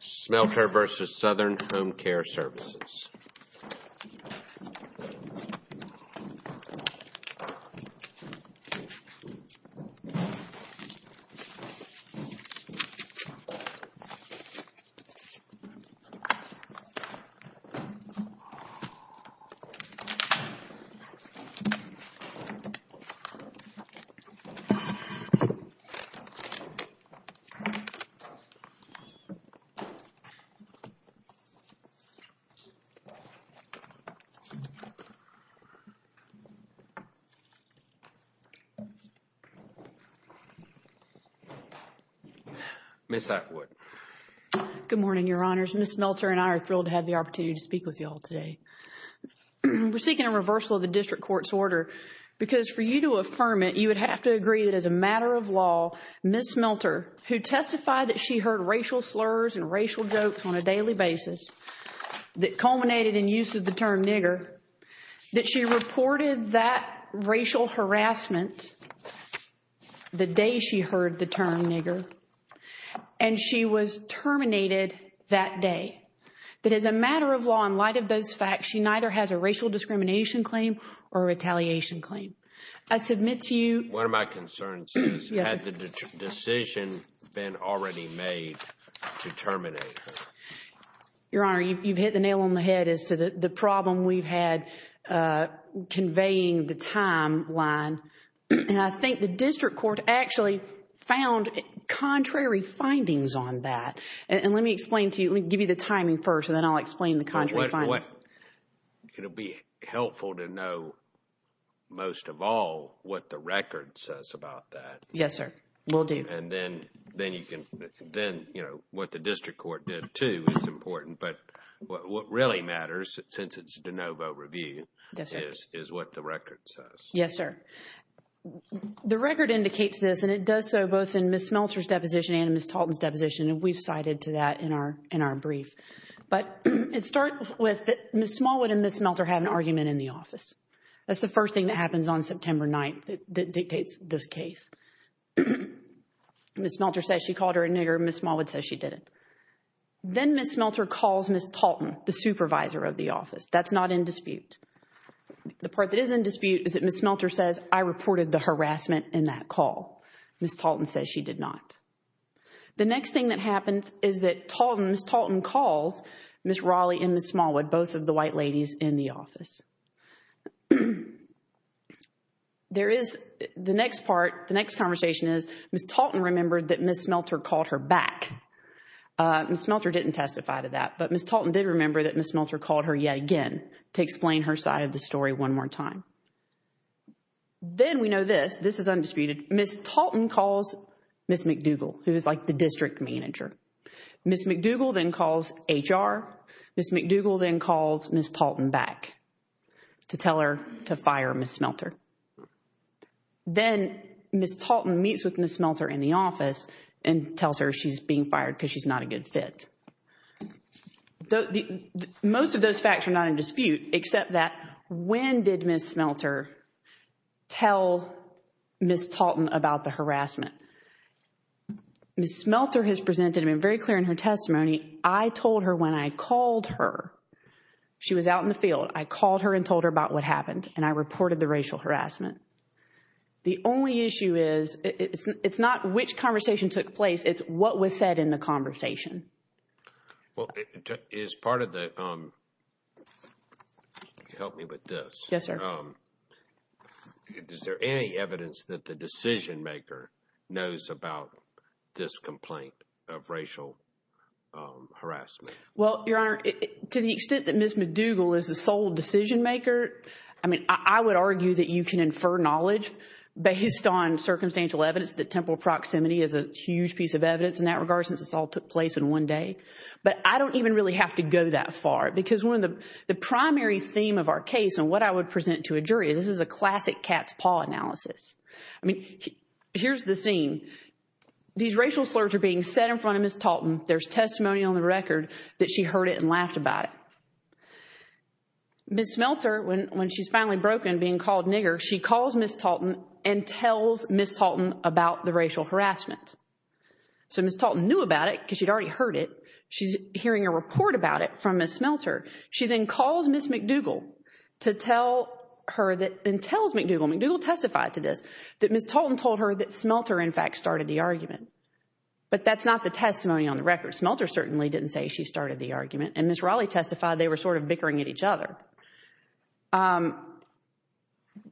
Smelter v. Southern Home Care Services Smelter v. Southern Home Care Services Ms. Smelter, who testified that she heard racial slurs and racial jokes on a daily basis that culminated in use of the term nigger, that she reported that racial harassment the day she heard the term nigger, and she was terminated that day, that as a matter of law, in light of those facts, she neither has a racial discrimination claim or retaliation claim. I submit to you... Has the decision been already made to terminate her? Your Honor, you've hit the nail on the head as to the problem we've had conveying the timeline. And I think the district court actually found contrary findings on that. And let me explain to you, let me give you the timing first, and then I'll explain the contrary findings. It'll be helpful to know, most of all, what the record says about that. Yes, sir. Will do. And then, you know, what the district court did too is important, but what really matters, since it's de novo review, is what the record says. Yes, sir. The record indicates this, and it does so both in Ms. Smelter's deposition and in Ms. Talton's deposition, and we've cited to that in our brief. But it starts with Ms. Smallwood and Ms. Smelter have an argument in the office. That's the first thing that happens on September 9th that dictates this case. Ms. Smelter says she called her a nigger, Ms. Smallwood says she didn't. Then Ms. Smelter calls Ms. Talton, the supervisor of the office. That's not in dispute. The part that is in dispute is that Ms. Smelter says, I reported the harassment in that call. Ms. Talton says she did not. The next thing that happens is that Ms. Talton calls Ms. Raleigh and Ms. Smallwood, both of the white ladies in the office. The next part, the next conversation is, Ms. Talton remembered that Ms. Smelter called her back. Ms. Smelter didn't testify to that, but Ms. Talton did remember that Ms. Smelter called her yet again to explain her side of the story one more time. Then we know this. This is undisputed. Ms. Talton calls Ms. McDougall, who is like the district manager. Ms. McDougall then calls HR. Ms. McDougall then calls Ms. Talton back to tell her to fire Ms. Smelter. Then Ms. Talton meets with Ms. Smelter in the office and tells her she's being fired because she's not a good fit. Most of those facts are not in dispute, except that when did Ms. Smelter tell Ms. Talton about the harassment? Ms. Smelter has presented and been very clear in her testimony, I told her when I called her. She was out in the field. I called her and told her about what happened, and I reported the racial harassment. The only issue is, it's not which conversation took place, it's what was said in the conversation. Well, is part of the, help me with this. Yes, sir. Is there any evidence that the decision-maker knows about this complaint of racial harassment? Well, Your Honor, to the extent that Ms. McDougall is the sole decision-maker, I would argue that you can infer knowledge based on circumstantial evidence that temporal proximity is a huge piece of evidence in that regard since this all took place in one day. But I don't even really have to go that far, because one of the primary theme of our case and what I would present to a jury, this is a classic cat's paw analysis. I mean, here's the scene. These racial slurs are being said in front of Ms. Talton. There's testimony on the record that she heard it and laughed about it. Ms. Smelter, when she's finally broken, being called nigger, she calls Ms. Talton and tells Ms. Talton about the racial harassment. So Ms. Talton knew about it because she'd already heard it. She's hearing a report about it from Ms. Smelter. She then calls Ms. McDougall and tells McDougall, McDougall testified to this, that Ms. Talton told her that Smelter, in fact, started the argument. But that's not the testimony on the record. Smelter certainly didn't say she started the argument, and Ms. Raleigh testified they were sort of bickering at each other.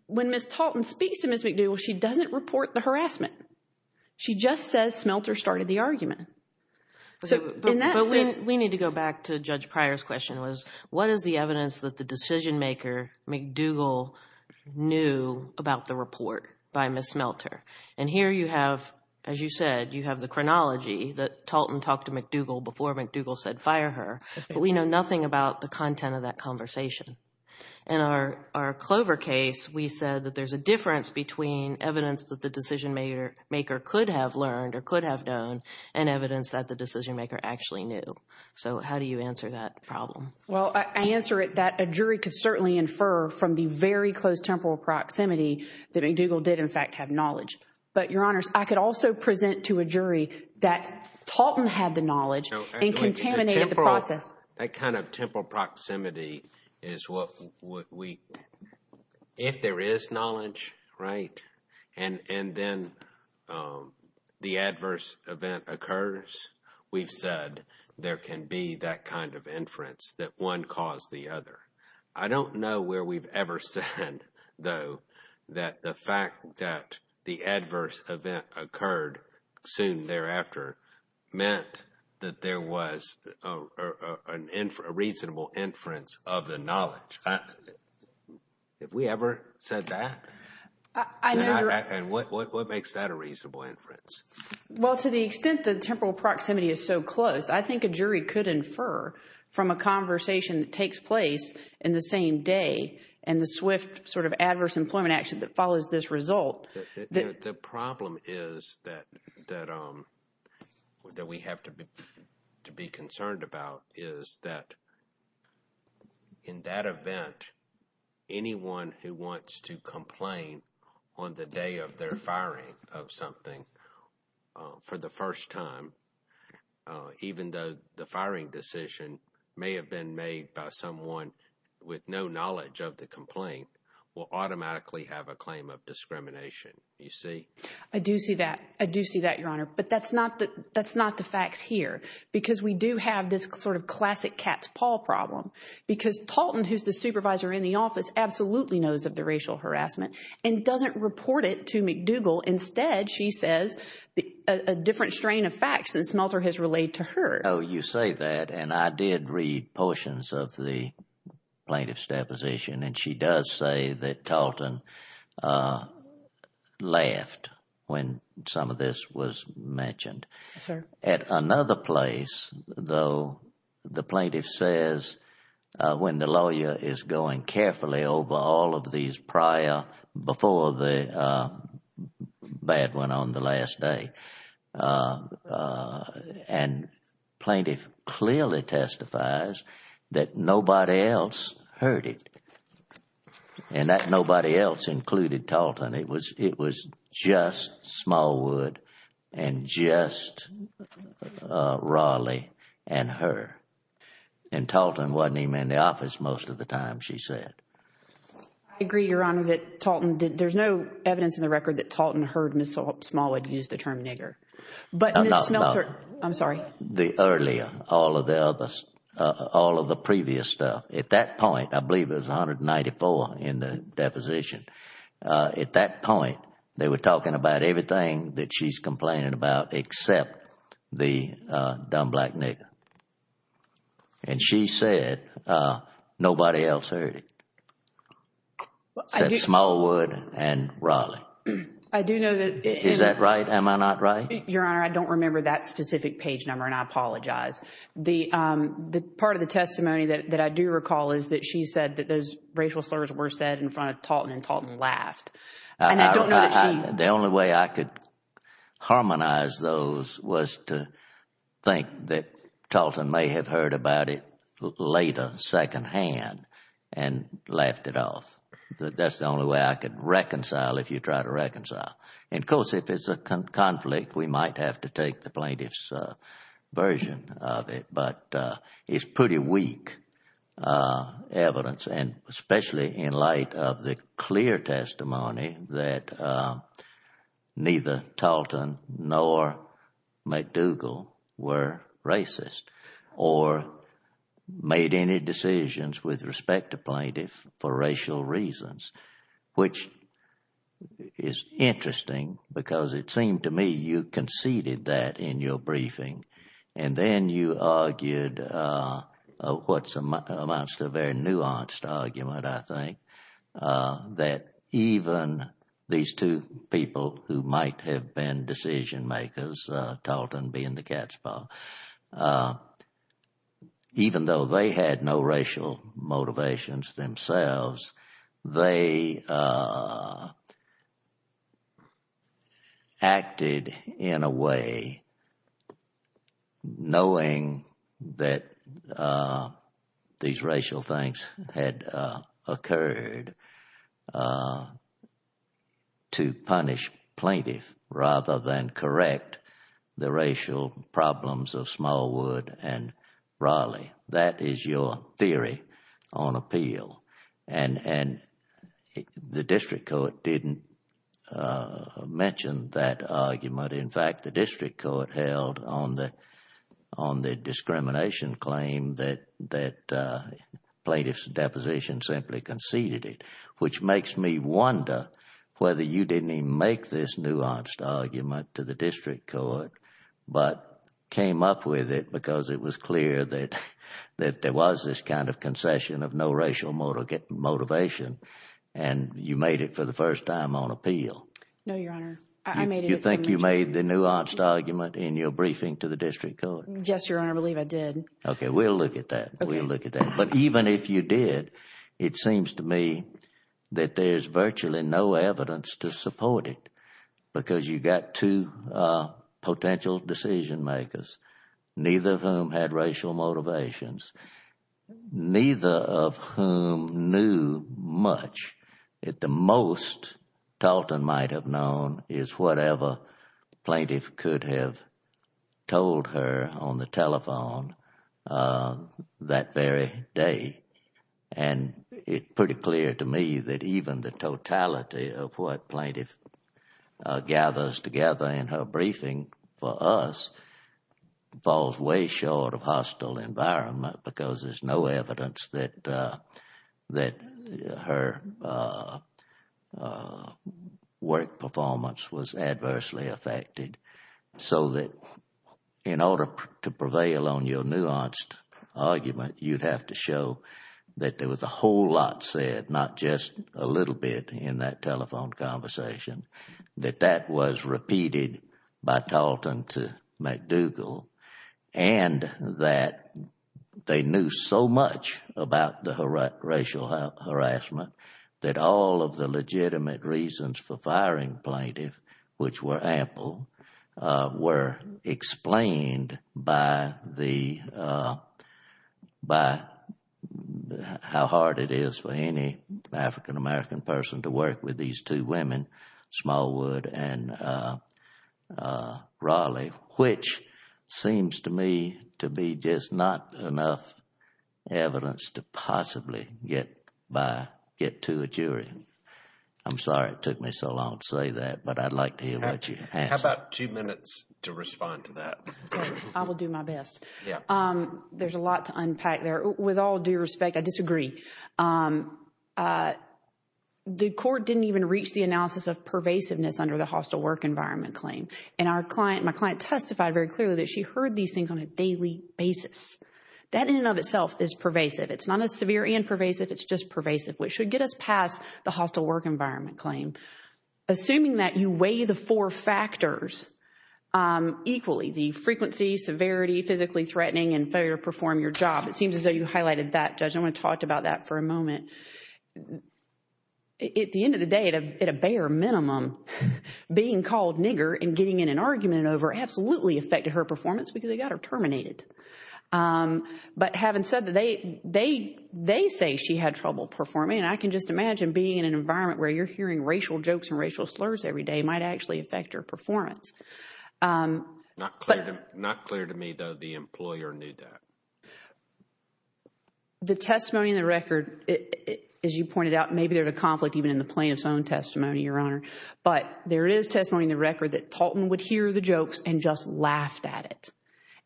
When Ms. Talton speaks to Ms. McDougall, she doesn't report the harassment. She just says Smelter started the argument. But we need to go back to Judge Pryor's question, was what is the evidence that the decision-maker, McDougall, knew about the report by Ms. Smelter? And here you have, as you said, you have the chronology, that Talton talked to McDougall before McDougall said fire her, but we know nothing about the content of that conversation. In our Clover case, we said that there's a difference between evidence that the decision-maker could have learned or could have known and evidence that the decision-maker actually knew. So how do you answer that problem? Well, I answer it that a jury could certainly infer from the very close temporal proximity that McDougall did, in fact, have knowledge. But, Your Honors, I could also present to a jury that Talton had the knowledge and contaminated the process. That kind of temporal proximity is what we, if there is knowledge, right, and then the adverse event occurs, we've said there can be that kind of inference that one caused the other. I don't know where we've ever said, though, that the fact that the adverse event occurred soon thereafter meant that there was a reasonable inference of the knowledge. Have we ever said that? And what makes that a reasonable inference? Well, to the extent that temporal proximity is so close, I think a jury could infer from a conversation that takes place in the same day and the swift sort of adverse employment action that follows this result. The problem is that we have to be concerned about is that in that event, anyone who wants to complain on the day of their firing of something for the first time, even though the firing decision may have been made by someone with no knowledge of the complaint, will automatically have a claim of discrimination. You see? I do see that. I do see that, Your Honor. But that's not the facts here because we do have this sort of classic cat's paw problem because Talton, who's the supervisor in the office, absolutely knows of the racial harassment and doesn't report it to McDougall. Instead, she says a different strain of facts than Smelter has relayed to her. Oh, you say that, and I did read portions of the plaintiff's deposition, and she does say that Talton laughed when some of this was mentioned. Yes, sir. At another place, though, the plaintiff says when the lawyer is going carefully over all of these prior, before the bad one on the last day, and plaintiff clearly testifies that nobody else heard it and that nobody else included Talton. It was just Smallwood and just Raleigh and her. And Talton wasn't even in the office most of the time, she said. I agree, Your Honor, that there's no evidence in the record that Talton heard Ms. Smallwood use the term nigger. I'm sorry. The earlier, all of the previous stuff. At that point, I believe it was 194 in the deposition. At that point, they were talking about everything that she's complaining about except the dumb black nigger. And she said nobody else heard it except Smallwood and Raleigh. I do know that. Is that right? Am I not right? Your Honor, I don't remember that specific page number, and I apologize. Part of the testimony that I do recall is that she said that those racial slurs were said in front of Talton and Talton laughed. And I don't know that she— The only way I could harmonize those was to think that Talton may have heard about it later, secondhand, and laughed it off. That's the only way I could reconcile if you try to reconcile. And, of course, if it's a conflict, we might have to take the plaintiff's version of it. But it's pretty weak evidence, and especially in light of the clear testimony that neither Talton nor McDougall were racist or made any decisions with respect to plaintiffs for racial reasons, which is interesting because it seemed to me you conceded that in your briefing, and then you argued what amounts to a very nuanced argument, I think, that even these two people who might have been decision-makers, Talton being the cat's paw, even though they had no racial motivations themselves, they acted in a way knowing that these racial things had occurred to punish plaintiff rather than correct the racial problems of Smallwood and Raleigh. That is your theory on appeal. And the district court didn't mention that argument. In fact, the district court held on the discrimination claim that plaintiff's deposition simply conceded it, which makes me wonder whether you didn't even make this nuanced argument to the district court, but came up with it because it was clear that there was this kind of concession of no racial motivation, and you made it for the first time on appeal. No, Your Honor. You think you made the nuanced argument in your briefing to the district court? Yes, Your Honor, I believe I did. Okay, we'll look at that. But even if you did, it seems to me that there's virtually no evidence to support it because you've got two potential decision-makers, neither of whom had racial motivations, neither of whom knew much. The most Talton might have known is whatever plaintiff could have told her on the telephone that very day. And it's pretty clear to me that even the totality of what plaintiff gathers together in her briefing for us falls way short of hostile environment because there's no evidence that her work performance was adversely affected. So that in order to prevail on your nuanced argument, you'd have to show that there was a whole lot said, not just a little bit in that telephone conversation, that that was repeated by Talton to McDougal, and that they knew so much about the racial harassment that all of the legitimate reasons for firing plaintiff, which were ample, were explained by how hard it is for any African-American person to work with these two women, Smallwood and Raleigh, which seems to me to be just not enough evidence to possibly get to a jury. I'm sorry it took me so long to say that, but I'd like to hear what you have to say. You've got two minutes to respond to that. I will do my best. There's a lot to unpack there. With all due respect, I disagree. The court didn't even reach the analysis of pervasiveness under the hostile work environment claim. And our client, my client testified very clearly that she heard these things on a daily basis. That in and of itself is pervasive. It's not as severe and pervasive. It's just pervasive, which should get us past the hostile work environment claim. Assuming that you weigh the four factors equally, the frequency, severity, physically threatening, and failure to perform your job. It seems as though you highlighted that, Judge. I want to talk about that for a moment. At the end of the day, at a bare minimum, being called nigger and getting in an argument over it absolutely affected her performance because they got her terminated. But having said that, they say she had trouble performing. And I can just imagine being in an environment where you're hearing racial jokes and racial slurs every day might actually affect your performance. Not clear to me, though, the employer knew that. The testimony in the record, as you pointed out, maybe there's a conflict even in the plaintiff's own testimony, Your Honor. But there is testimony in the record that Tolton would hear the jokes and just laughed at it.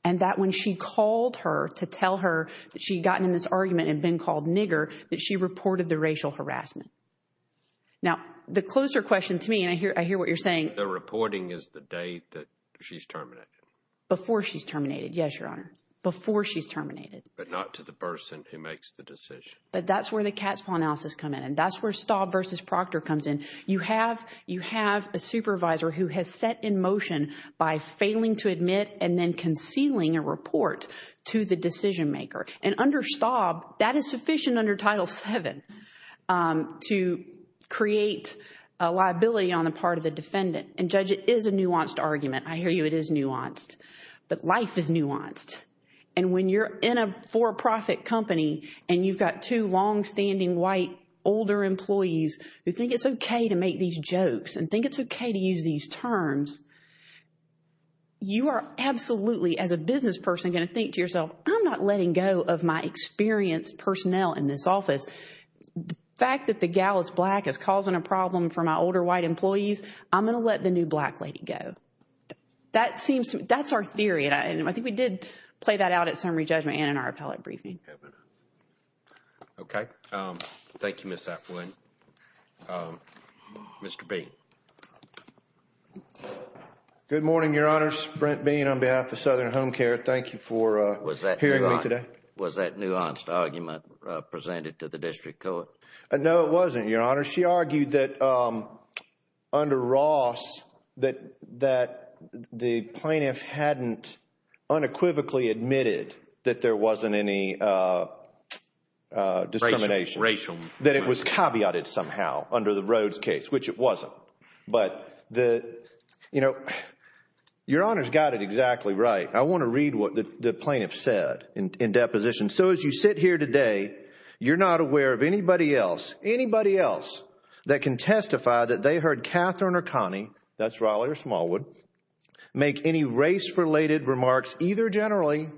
And that when she called her to tell her that she'd gotten in this argument and been called nigger, that she reported the racial harassment. Now, the closer question to me, and I hear what you're saying. The reporting is the day that she's terminated. Before she's terminated, yes, Your Honor. Before she's terminated. But not to the person who makes the decision. But that's where the cat's paw analysis come in. And that's where Staub v. Proctor comes in. You have a supervisor who has set in motion by failing to admit and then concealing a report to the decision maker. And under Staub, that is sufficient under Title VII to create a liability on the part of the defendant. And Judge, it is a nuanced argument. I hear you, it is nuanced. But life is nuanced. And when you're in a for-profit company and you've got two long-standing white older employees who think it's okay to make these jokes and think it's okay to use these terms, you are absolutely, as a business person, going to think to yourself, I'm not letting go of my experienced personnel in this office. The fact that the gal is black is causing a problem for my older white employees, I'm going to let the new black lady go. That seems, that's our theory. And I think we did play that out at summary judgment and in our appellate briefing. Okay. Thank you, Ms. Atwood. Mr. Bean. Good morning, Your Honors. Brent Bean on behalf of Southern Home Care. Thank you for hearing me today. Was that nuanced argument presented to the district court? No, it wasn't, Your Honor. She argued that under Ross, that the plaintiff hadn't unequivocally admitted that there wasn't any discrimination. Racial. That it was caveated somehow under the Rhodes case, which it wasn't. But the, you know, Your Honors got it exactly right. I want to read what the plaintiff said in deposition. So as you sit here today, you're not aware of anybody else, anybody else that can testify that they heard Catherine or Connie, that's Raleigh or Smallwood, make any race-related remarks either generally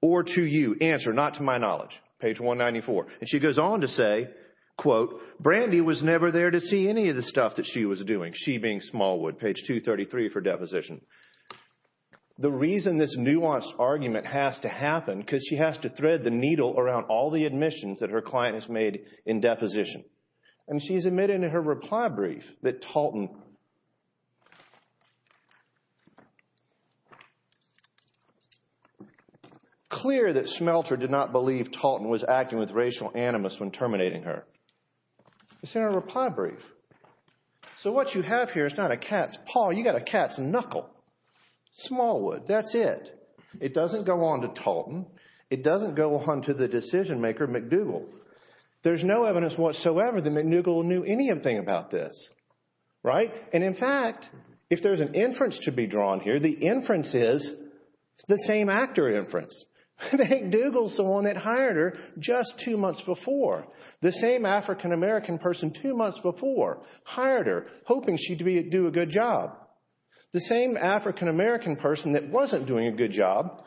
or to you. Answer, not to my knowledge. Page 194. And she goes on to say, quote, Brandy was never there to see any of the stuff that she was doing. She being Smallwood. Page 233 for deposition. The reason this nuanced argument has to happen, because she has to thread the needle around all the admissions that her client has made in deposition. And she's admitted in her reply brief that Talton, clear that Smelter did not believe Talton was acting with racial animus when terminating her. It's in her reply brief. So what you have here is not a cat's paw. You got a cat's knuckle. Smallwood, that's it. It doesn't go on to Talton. It doesn't go on to the decision-maker, McDougal. There's no evidence whatsoever that McDougal knew anything about this. Right? And in fact, if there's an inference to be drawn here, the inference is the same actor inference. McDougal's the one that hired her just two months before. The same African-American person two months before hired her, hoping she'd do a good job. The same African-American person that wasn't doing a good job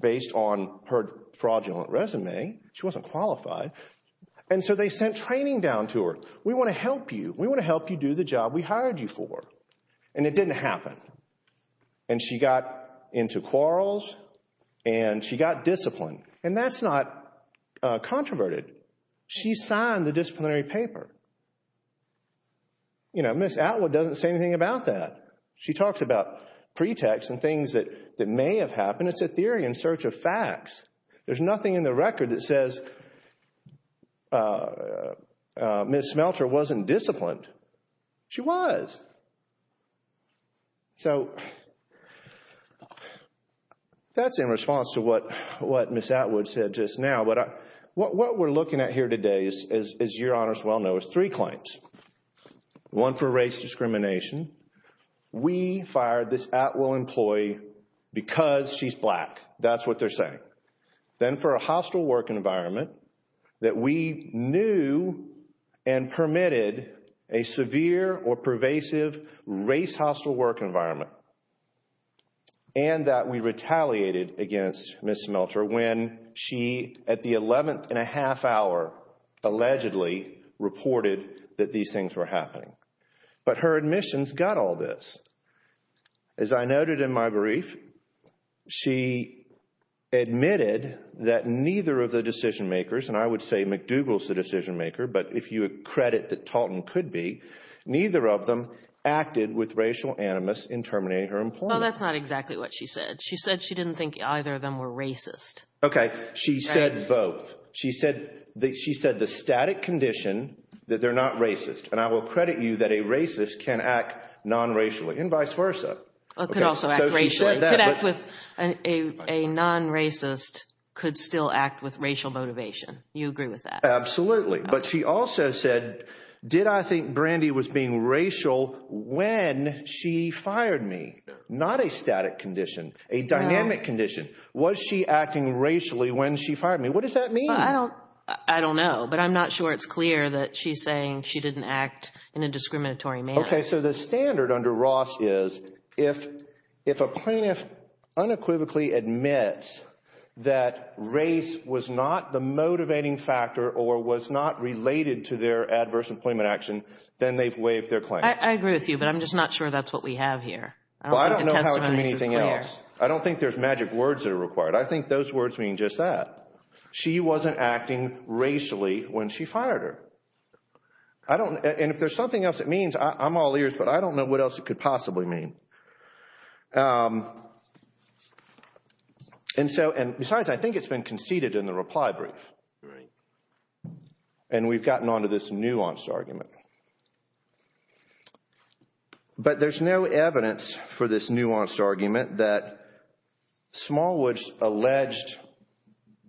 based on her fraudulent resume. She wasn't qualified. And so they sent training down to her. We want to help you. We want to help you do the job we hired you for. And it didn't happen. And she got into quarrels and she got disciplined. And that's not controverted. She signed the disciplinary paper. You know, Ms. Atwood doesn't say anything about that. She talks about pretexts and things that may have happened. It's a theory in search of facts. There's nothing in the record that says Ms. Smelter wasn't disciplined. She was. So, that's in response to what Ms. Atwood said just now. What we're looking at here today, as your honors well know, is three claims. One for race discrimination. We fired this Atwill employee because she's black. That's what they're saying. Then for a hostile work environment that we knew and permitted a severe or pervasive race hostile work environment. And that we retaliated against Ms. Smelter when she, at the 11th and a half hour, allegedly reported that these things were happening. But her admissions got all this. As I noted in my brief, she admitted that neither of the decision makers, and I would say McDougall's the decision maker, but if you would credit that Talton could be, neither of them acted with racial animus in terminating her employment. Well, that's not exactly what she said. She said she didn't think either of them were racist. Okay, she said both. She said the static condition that they're not racist. And I will credit you that a racist can act non-racially and vice versa. Could also act racially. A non-racist could still act with racial motivation. You agree with that? Absolutely. But she also said, did I think Brandy was being racial when she fired me? Not a static condition, a dynamic condition. Was she acting racially when she fired me? What does that mean? I don't know, but I'm not sure it's clear that she's saying she didn't act in a discriminatory manner. Okay, so the standard under Ross is if a plaintiff unequivocally admits that race was not the motivating factor or was not related to their adverse employment action, then they've waived their claim. I agree with you, but I'm just not sure that's what we have here. Well, I don't know how it could be anything else. I don't think there's magic words that are required. I think those words mean just that. She wasn't acting racially when she fired her. And if there's something else it means, I'm all ears, but I don't know what else it could possibly mean. And besides, I think it's been conceded in the reply brief. And we've gotten onto this nuanced argument. But there's no evidence for this nuanced argument that Smallwood's alleged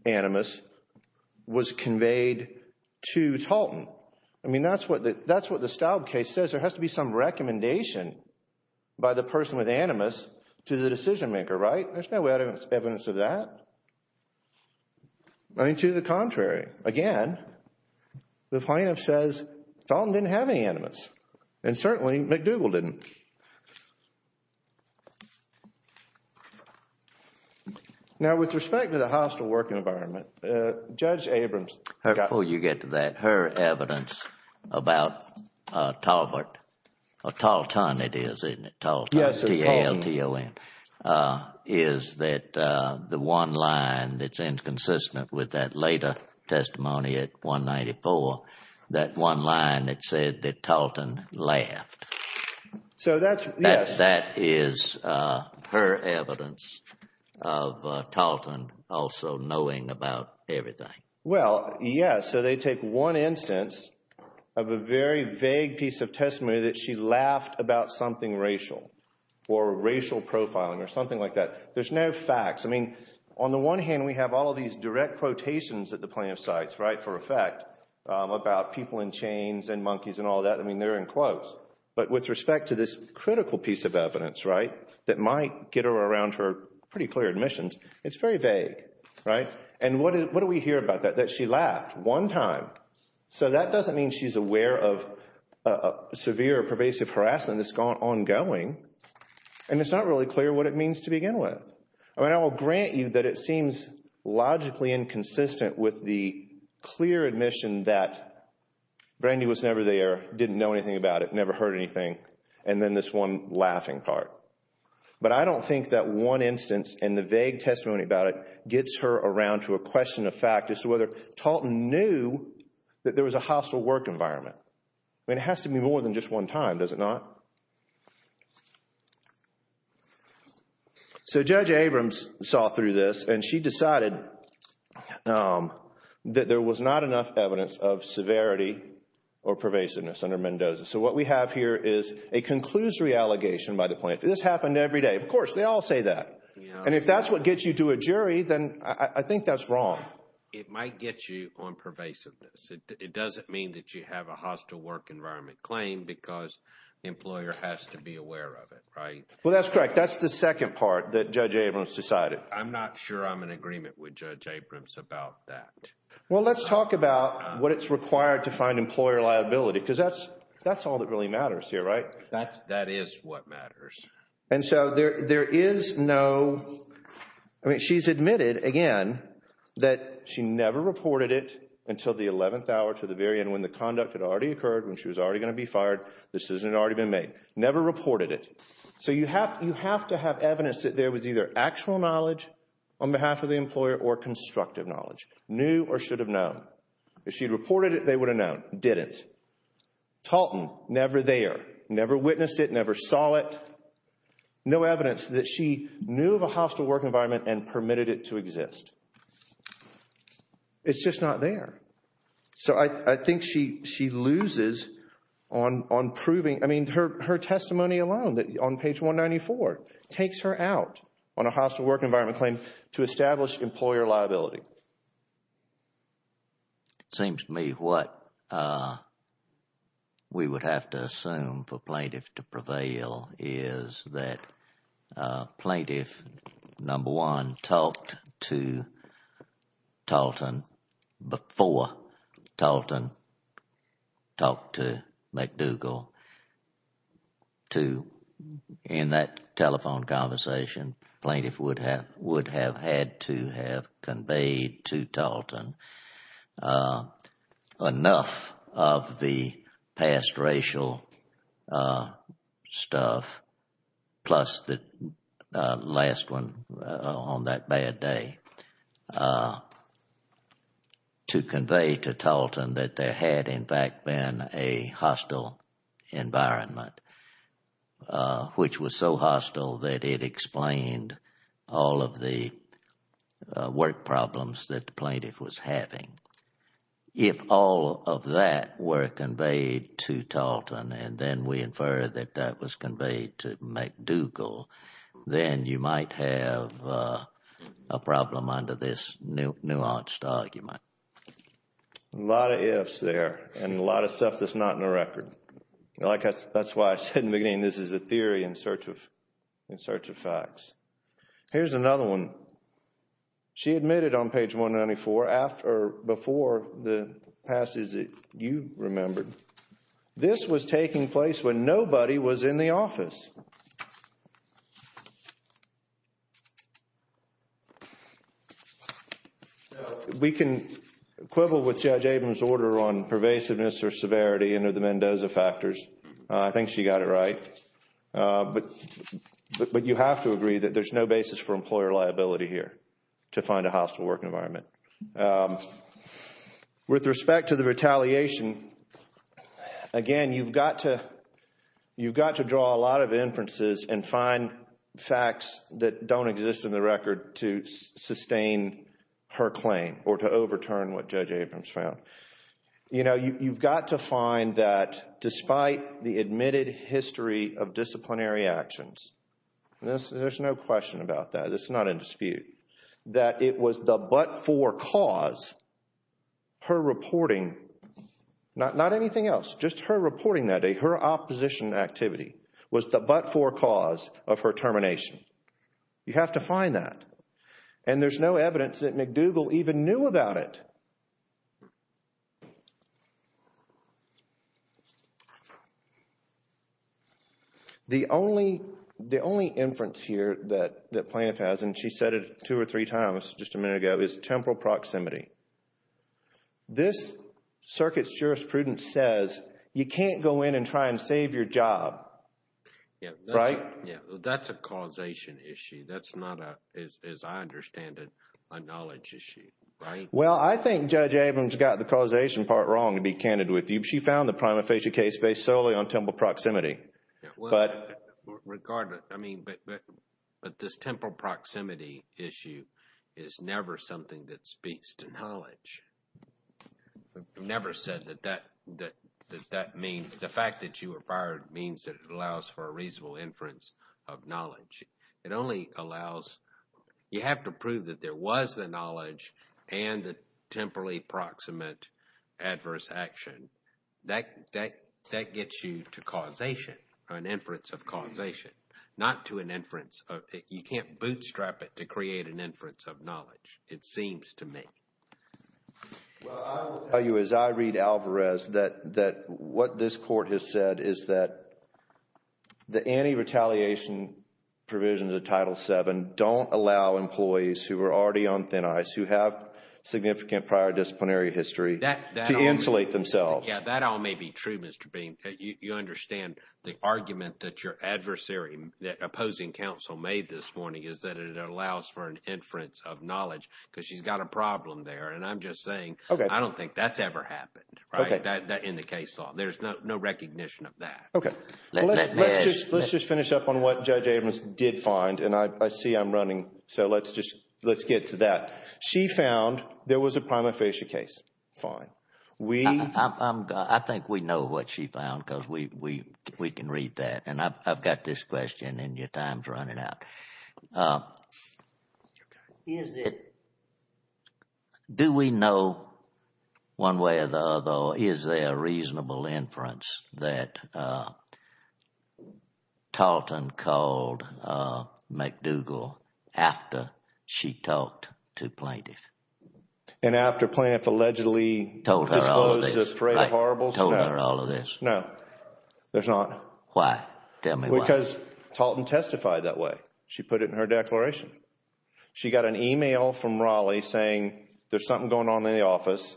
animus was conveyed to Talton. I mean, that's what the Staub case says. There has to be some recommendation by the person with animus to the decision maker, right? There's no evidence of that. I mean, to the contrary. Again, the plaintiff says Talton didn't have any animus. And certainly McDougall didn't. Now, with respect to the hostile working environment, Judge Abrams... Before you get to that, her evidence about Talton, T-A-L-T-O-N, is that the one line that's inconsistent with that later testimony at 194, that one line that said that Talton laughed. So that's... That is her evidence of Talton also knowing about everything. Well, yes. So they take one instance of a very vague piece of testimony that she laughed about something racial. Or racial profiling or something like that. There's no facts. I mean, on the one hand, we have all of these direct quotations at the plaintiff's sites, right, for effect, about people in chains and monkeys and all that. I mean, they're in quotes. But with respect to this critical piece of evidence, right, that might get her around her pretty clear admissions, it's very vague, right? And what do we hear about that? That she laughed one time. So that doesn't mean she's aware of severe or pervasive harassment that's ongoing. And it's not really clear what it means to begin with. I mean, I will grant you that it seems logically inconsistent with the clear admission that Brandy was never there, didn't know anything about it, never heard anything, and then this one laughing part. But I don't think that one instance and the vague testimony about it gets her around to a question of fact as to whether Talton knew that there was a hostile work environment. I mean, it has to be more than just one time, does it not? So Judge Abrams saw through this and she decided that there was not enough evidence of severity or pervasiveness under Mendoza. So what we have here is a conclusory allegation by the plaintiff. This happened every day. Of course, they all say that. And if that's what gets you to a jury, then I think that's wrong. It might get you on pervasiveness. It doesn't mean that you have a hostile work environment claim because the employer has to be aware of it, right? Well, that's correct. That's the second part that Judge Abrams decided. I'm not sure I'm in agreement with Judge Abrams about that. Well, let's talk about what it's required to find employer liability because that's all that really matters here, right? That is what matters. And so there is no, I mean, she's admitted again that she never reported it until the 11th hour to the very end when the conduct had already occurred, when she was already going to be fired. This isn't already been made. Never reported it. So you have to have evidence that there was either actual knowledge on behalf of the employer or constructive knowledge. Knew or should have known. If she had reported it, they would have known. Didn't. Talton, never there. Never witnessed it. Never saw it. No evidence that she knew of a hostile work environment and permitted it to exist. It's just not there. So I think she loses on proving, I mean, her testimony alone on page 194 takes her out on a hostile work environment claim to establish employer liability. Seems to me what we would have to assume for plaintiff to prevail is that plaintiff, number one, talked to Talton before Talton talked to McDougal. In that telephone conversation, plaintiff would have had to have conveyed to Talton enough of the past racial stuff, plus the last one on that bad day, to convey to Talton that there had, in fact, been a hostile environment, which was so hostile that it explained all of the work problems that the plaintiff was having. If all of that were conveyed to Talton and then we infer that that was conveyed to McDougal, then you might have a problem under this nuanced argument. A lot of ifs there and a lot of stuff that's not in the record. That's why I said in the beginning this is a theory in search of facts. Here's another one. She admitted on page 194, before the passage that you remembered, this was taking place when nobody was in the office. We can quibble with Judge Abrams' order on pervasiveness or severity under the Mendoza factors. I think she got it right. But you have to agree that there's no basis for employer liability here to find a hostile work environment. With respect to the retaliation, again, you've got to draw a lot of inferences and find facts that don't exist in the record to sustain her claim or to overturn what Judge Abrams found. You've got to find that despite the admitted history of disciplinary actions, there's no question about that. It's not in dispute that it was the but-for cause, her reporting, not anything else, just her reporting that day, her opposition activity was the but-for cause of her termination. You have to find that. And there's no evidence that McDougal even knew about it. The only inference here that Plaintiff has, and she said it two or three times just a minute ago, is temporal proximity. This circuit's jurisprudence says you can't go in and try and save your job, right? That's a causation issue. That's not, as I understand it, a knowledge issue, right? Well, I think Judge Abrams got the causation part wrong, to be candid with you. She found the prima facie case based solely on temporal proximity. Regardless, I mean, but this temporal proximity issue is never something that speaks to knowledge. Never said that that means, the fact that you were fired means that it allows for a reasonable inference of knowledge. It only allows, you have to prove that there was the knowledge and the temporally proximate adverse action. That gets you to causation, an inference of causation, not to an inference of, you can't bootstrap it to create an inference of knowledge, it seems to me. Well, I will tell you, as I read Alvarez, that what this court has said is that the anti-retaliation provisions of Title VII don't allow employees who are already on thin ice, who have significant prior disciplinary history, to insulate themselves. Yeah, that all may be true, Mr. Bean. You understand the argument that your adversary, the opposing counsel made this morning is that it allows for an inference of knowledge, because she's got a problem there. And I'm just saying, I don't think that's ever happened, right, in the case law. There's no recognition of that. Okay. Let's just finish up on what Judge Abrams did find, and I see I'm running, so let's just, let's get to that. She found there was a prima facie case. Fine. I think we know what she found because we can read that, and I've got this question, and your time's running out. Is it, do we know one way or the other, or is there a reasonable inference that Tarleton called McDougall after she talked to plaintiff? And after plaintiff allegedly Told her all of this. Disposed the parade of horribles? I told her all of this. No, there's not. Why? Tell me why. Because Tarleton testified that way. She put it in her declaration. She got an email from Raleigh saying there's something going on in the office,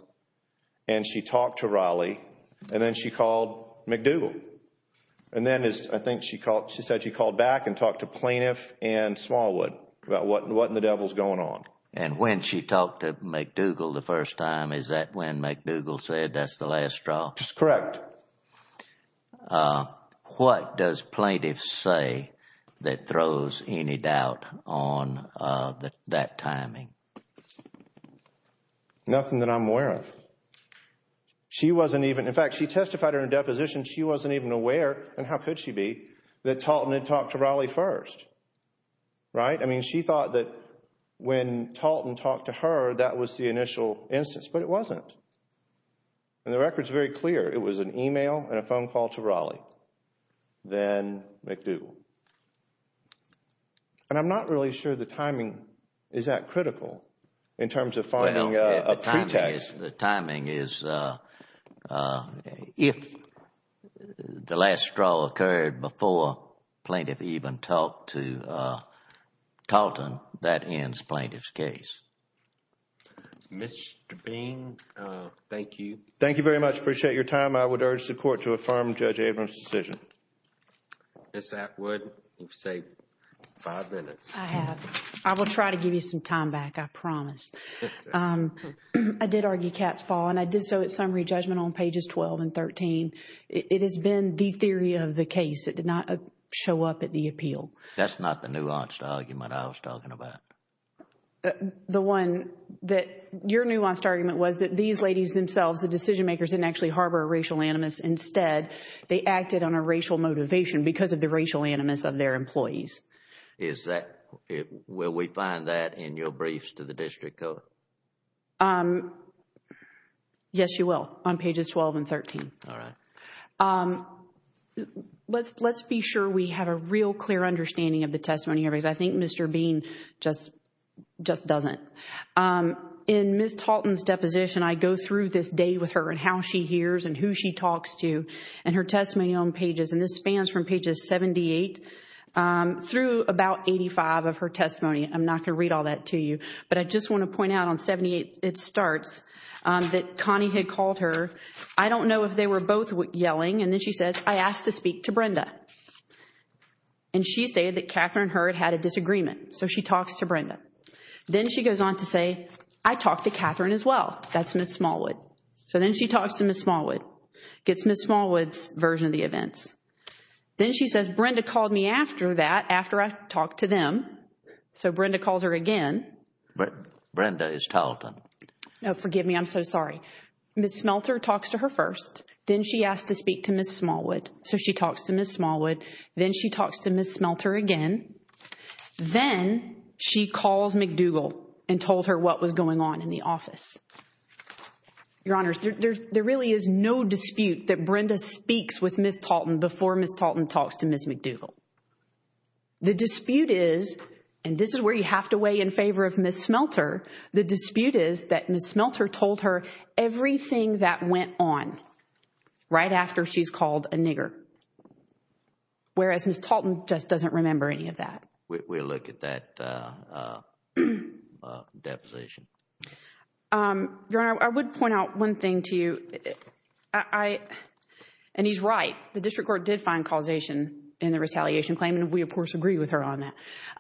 and she talked to Raleigh, and then she called McDougall. And then, I think she called, she said she called back and talked to plaintiff and Smallwood about what in the devil's going on. And when she talked to McDougall the first time, is that when McDougall said that's the last straw? That's correct. What does plaintiff say that throws any doubt on that timing? Nothing that I'm aware of. She wasn't even, in fact, she testified in her deposition, she wasn't even aware, and how could she be, that Tarleton had talked to Raleigh first. Right? I mean, she thought that when Tarleton talked to her, that was the initial instance, but it wasn't. And the record's very clear. It was an email and a phone call to Raleigh, then McDougall. And I'm not really sure the timing is that critical in terms of finding a pretext. The timing is, if the last straw occurred before plaintiff even talked to Tarleton, that ends plaintiff's case. Mr. Bean, thank you. Thank you very much. I appreciate your time. I would urge the Court to affirm Judge Abrams' decision. Ms. Atwood, you've saved five minutes. I have. I will try to give you some time back, I promise. I did argue Katz's fall, and I did so at summary judgment on pages 12 and 13. It has been the theory of the case. It did not show up at the appeal. That's not the nuanced argument I was talking about. The one that, your nuanced argument was that these ladies themselves, the decision makers, didn't actually harbor a racial animus. Instead, they acted on a racial motivation because of the racial animus of their employees. Is that, will we find that in your briefs to the District Court? Yes, you will, on pages 12 and 13. All right. Let's be sure we have a real clear understanding of the testimony here because I think Mr. Bean just doesn't. In Ms. Tarleton's deposition, I go through this day with her and how she hears and who she talks to and her testimony on pages, and this spans from pages 78 through about 85 of her testimony. I'm not going to read all that to you, but I just want to point out on 78, it starts that Connie had called her. I don't know if they were both yelling, and then she says, I asked to speak to Brenda. And she stated that Catherine and her had had a disagreement, so she talks to Brenda. Then she goes on to say, I talked to Catherine as well. That's Ms. Smallwood. So then she talks to Ms. Smallwood, gets Ms. Smallwood's version of the events. Then she says, Brenda called me after that, after I talked to them. So Brenda calls her again. Brenda is Tarleton. Forgive me, I'm so sorry. Ms. Smelter talks to her first. Then she asked to speak to Ms. Smallwood. So she talks to Ms. Smallwood. Then she talks to Ms. Smelter again. Then she calls McDougal and told her what was going on in the office. Your Honors, there really is no dispute that Brenda speaks with Ms. Tarleton before Ms. Tarleton talks to Ms. McDougal. The dispute is, and this is where you have to weigh in favor of Ms. Smelter. The dispute is that Ms. Smelter told her everything that went on right after she's called a nigger. Whereas Ms. Tarleton just doesn't remember any of that. We'll look at that deposition. Your Honor, I would point out one thing to you. And he's right. The district court did find causation in the retaliation claim and we of course agree with her on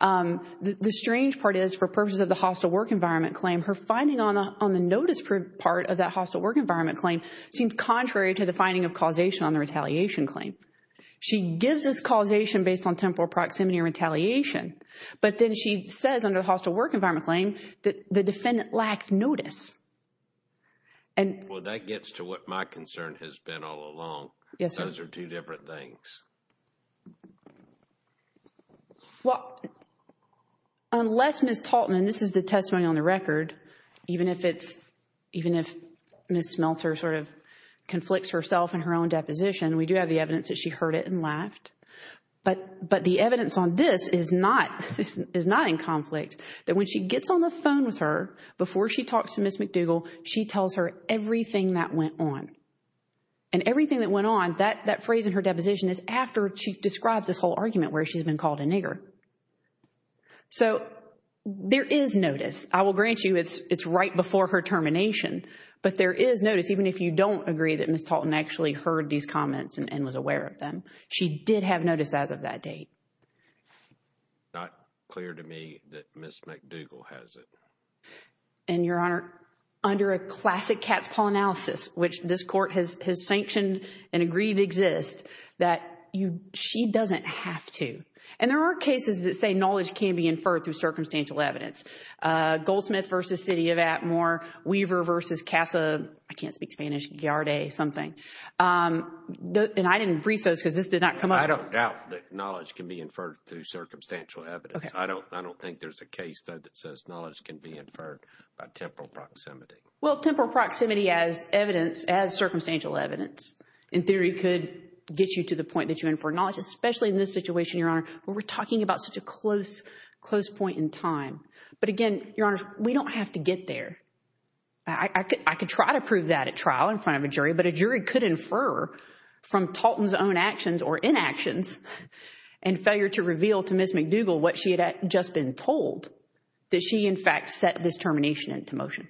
that. The strange part is, for purposes of the hostile work environment claim, her finding on the notice part of that hostile work environment claim seemed contrary to the finding of causation on the retaliation claim. She gives us causation based on temporal proximity or retaliation. But then she says under the hostile work environment claim that the defendant lacked notice. Well, that gets to what my concern has been all along. Yes, sir. Those are two different things. Well, unless Ms. Tarleton, and this is the testimony on the record, even if Ms. Smelter sort of conflicts herself in her own deposition, we do have the evidence that she heard it and laughed. But the evidence on this is not in conflict, that when she gets on the phone with her, before she talks to Ms. McDougall, she tells her everything that went on. And everything that went on, that phrase in her deposition, is after she describes this whole argument where she's been called a nigger. So, there is notice. I will grant you it's right before her termination. But there is notice, even if you don't agree that Ms. Tarleton actually heard these comments and was aware of them. I have notice as of that date. Not clear to me that Ms. McDougall has it. And, Your Honor, under a classic cat's paw analysis, which this Court has sanctioned and agreed to exist, that she doesn't have to. And there are cases that say knowledge can be inferred through circumstantial evidence. Goldsmith v. City of Atmore, Weaver v. Casa, I can't speak Spanish, Yarday, something. And I didn't brief those because this did not come up. I don't doubt that knowledge can be inferred through circumstantial evidence. I don't think there's a case that says knowledge can be inferred by temporal proximity. Well, temporal proximity as circumstantial evidence, in theory, could get you to the point that you infer knowledge, especially in this situation, Your Honor, where we're talking about such a close point in time. But again, Your Honor, we don't have to get there. I could try to prove that at trial in front of a jury, but I could infer from Talton's own actions or inactions and failure to reveal to Ms. McDougall what she had just been told, that she, in fact, set this termination into motion.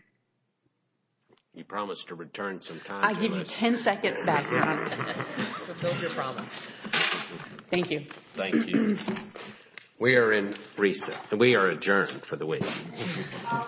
You promised to return some time, Melissa. I give you 10 seconds back, Your Honor. Fulfill your promise. Thank you. We are in recess. We are adjourned for the week. All rise. Thank you.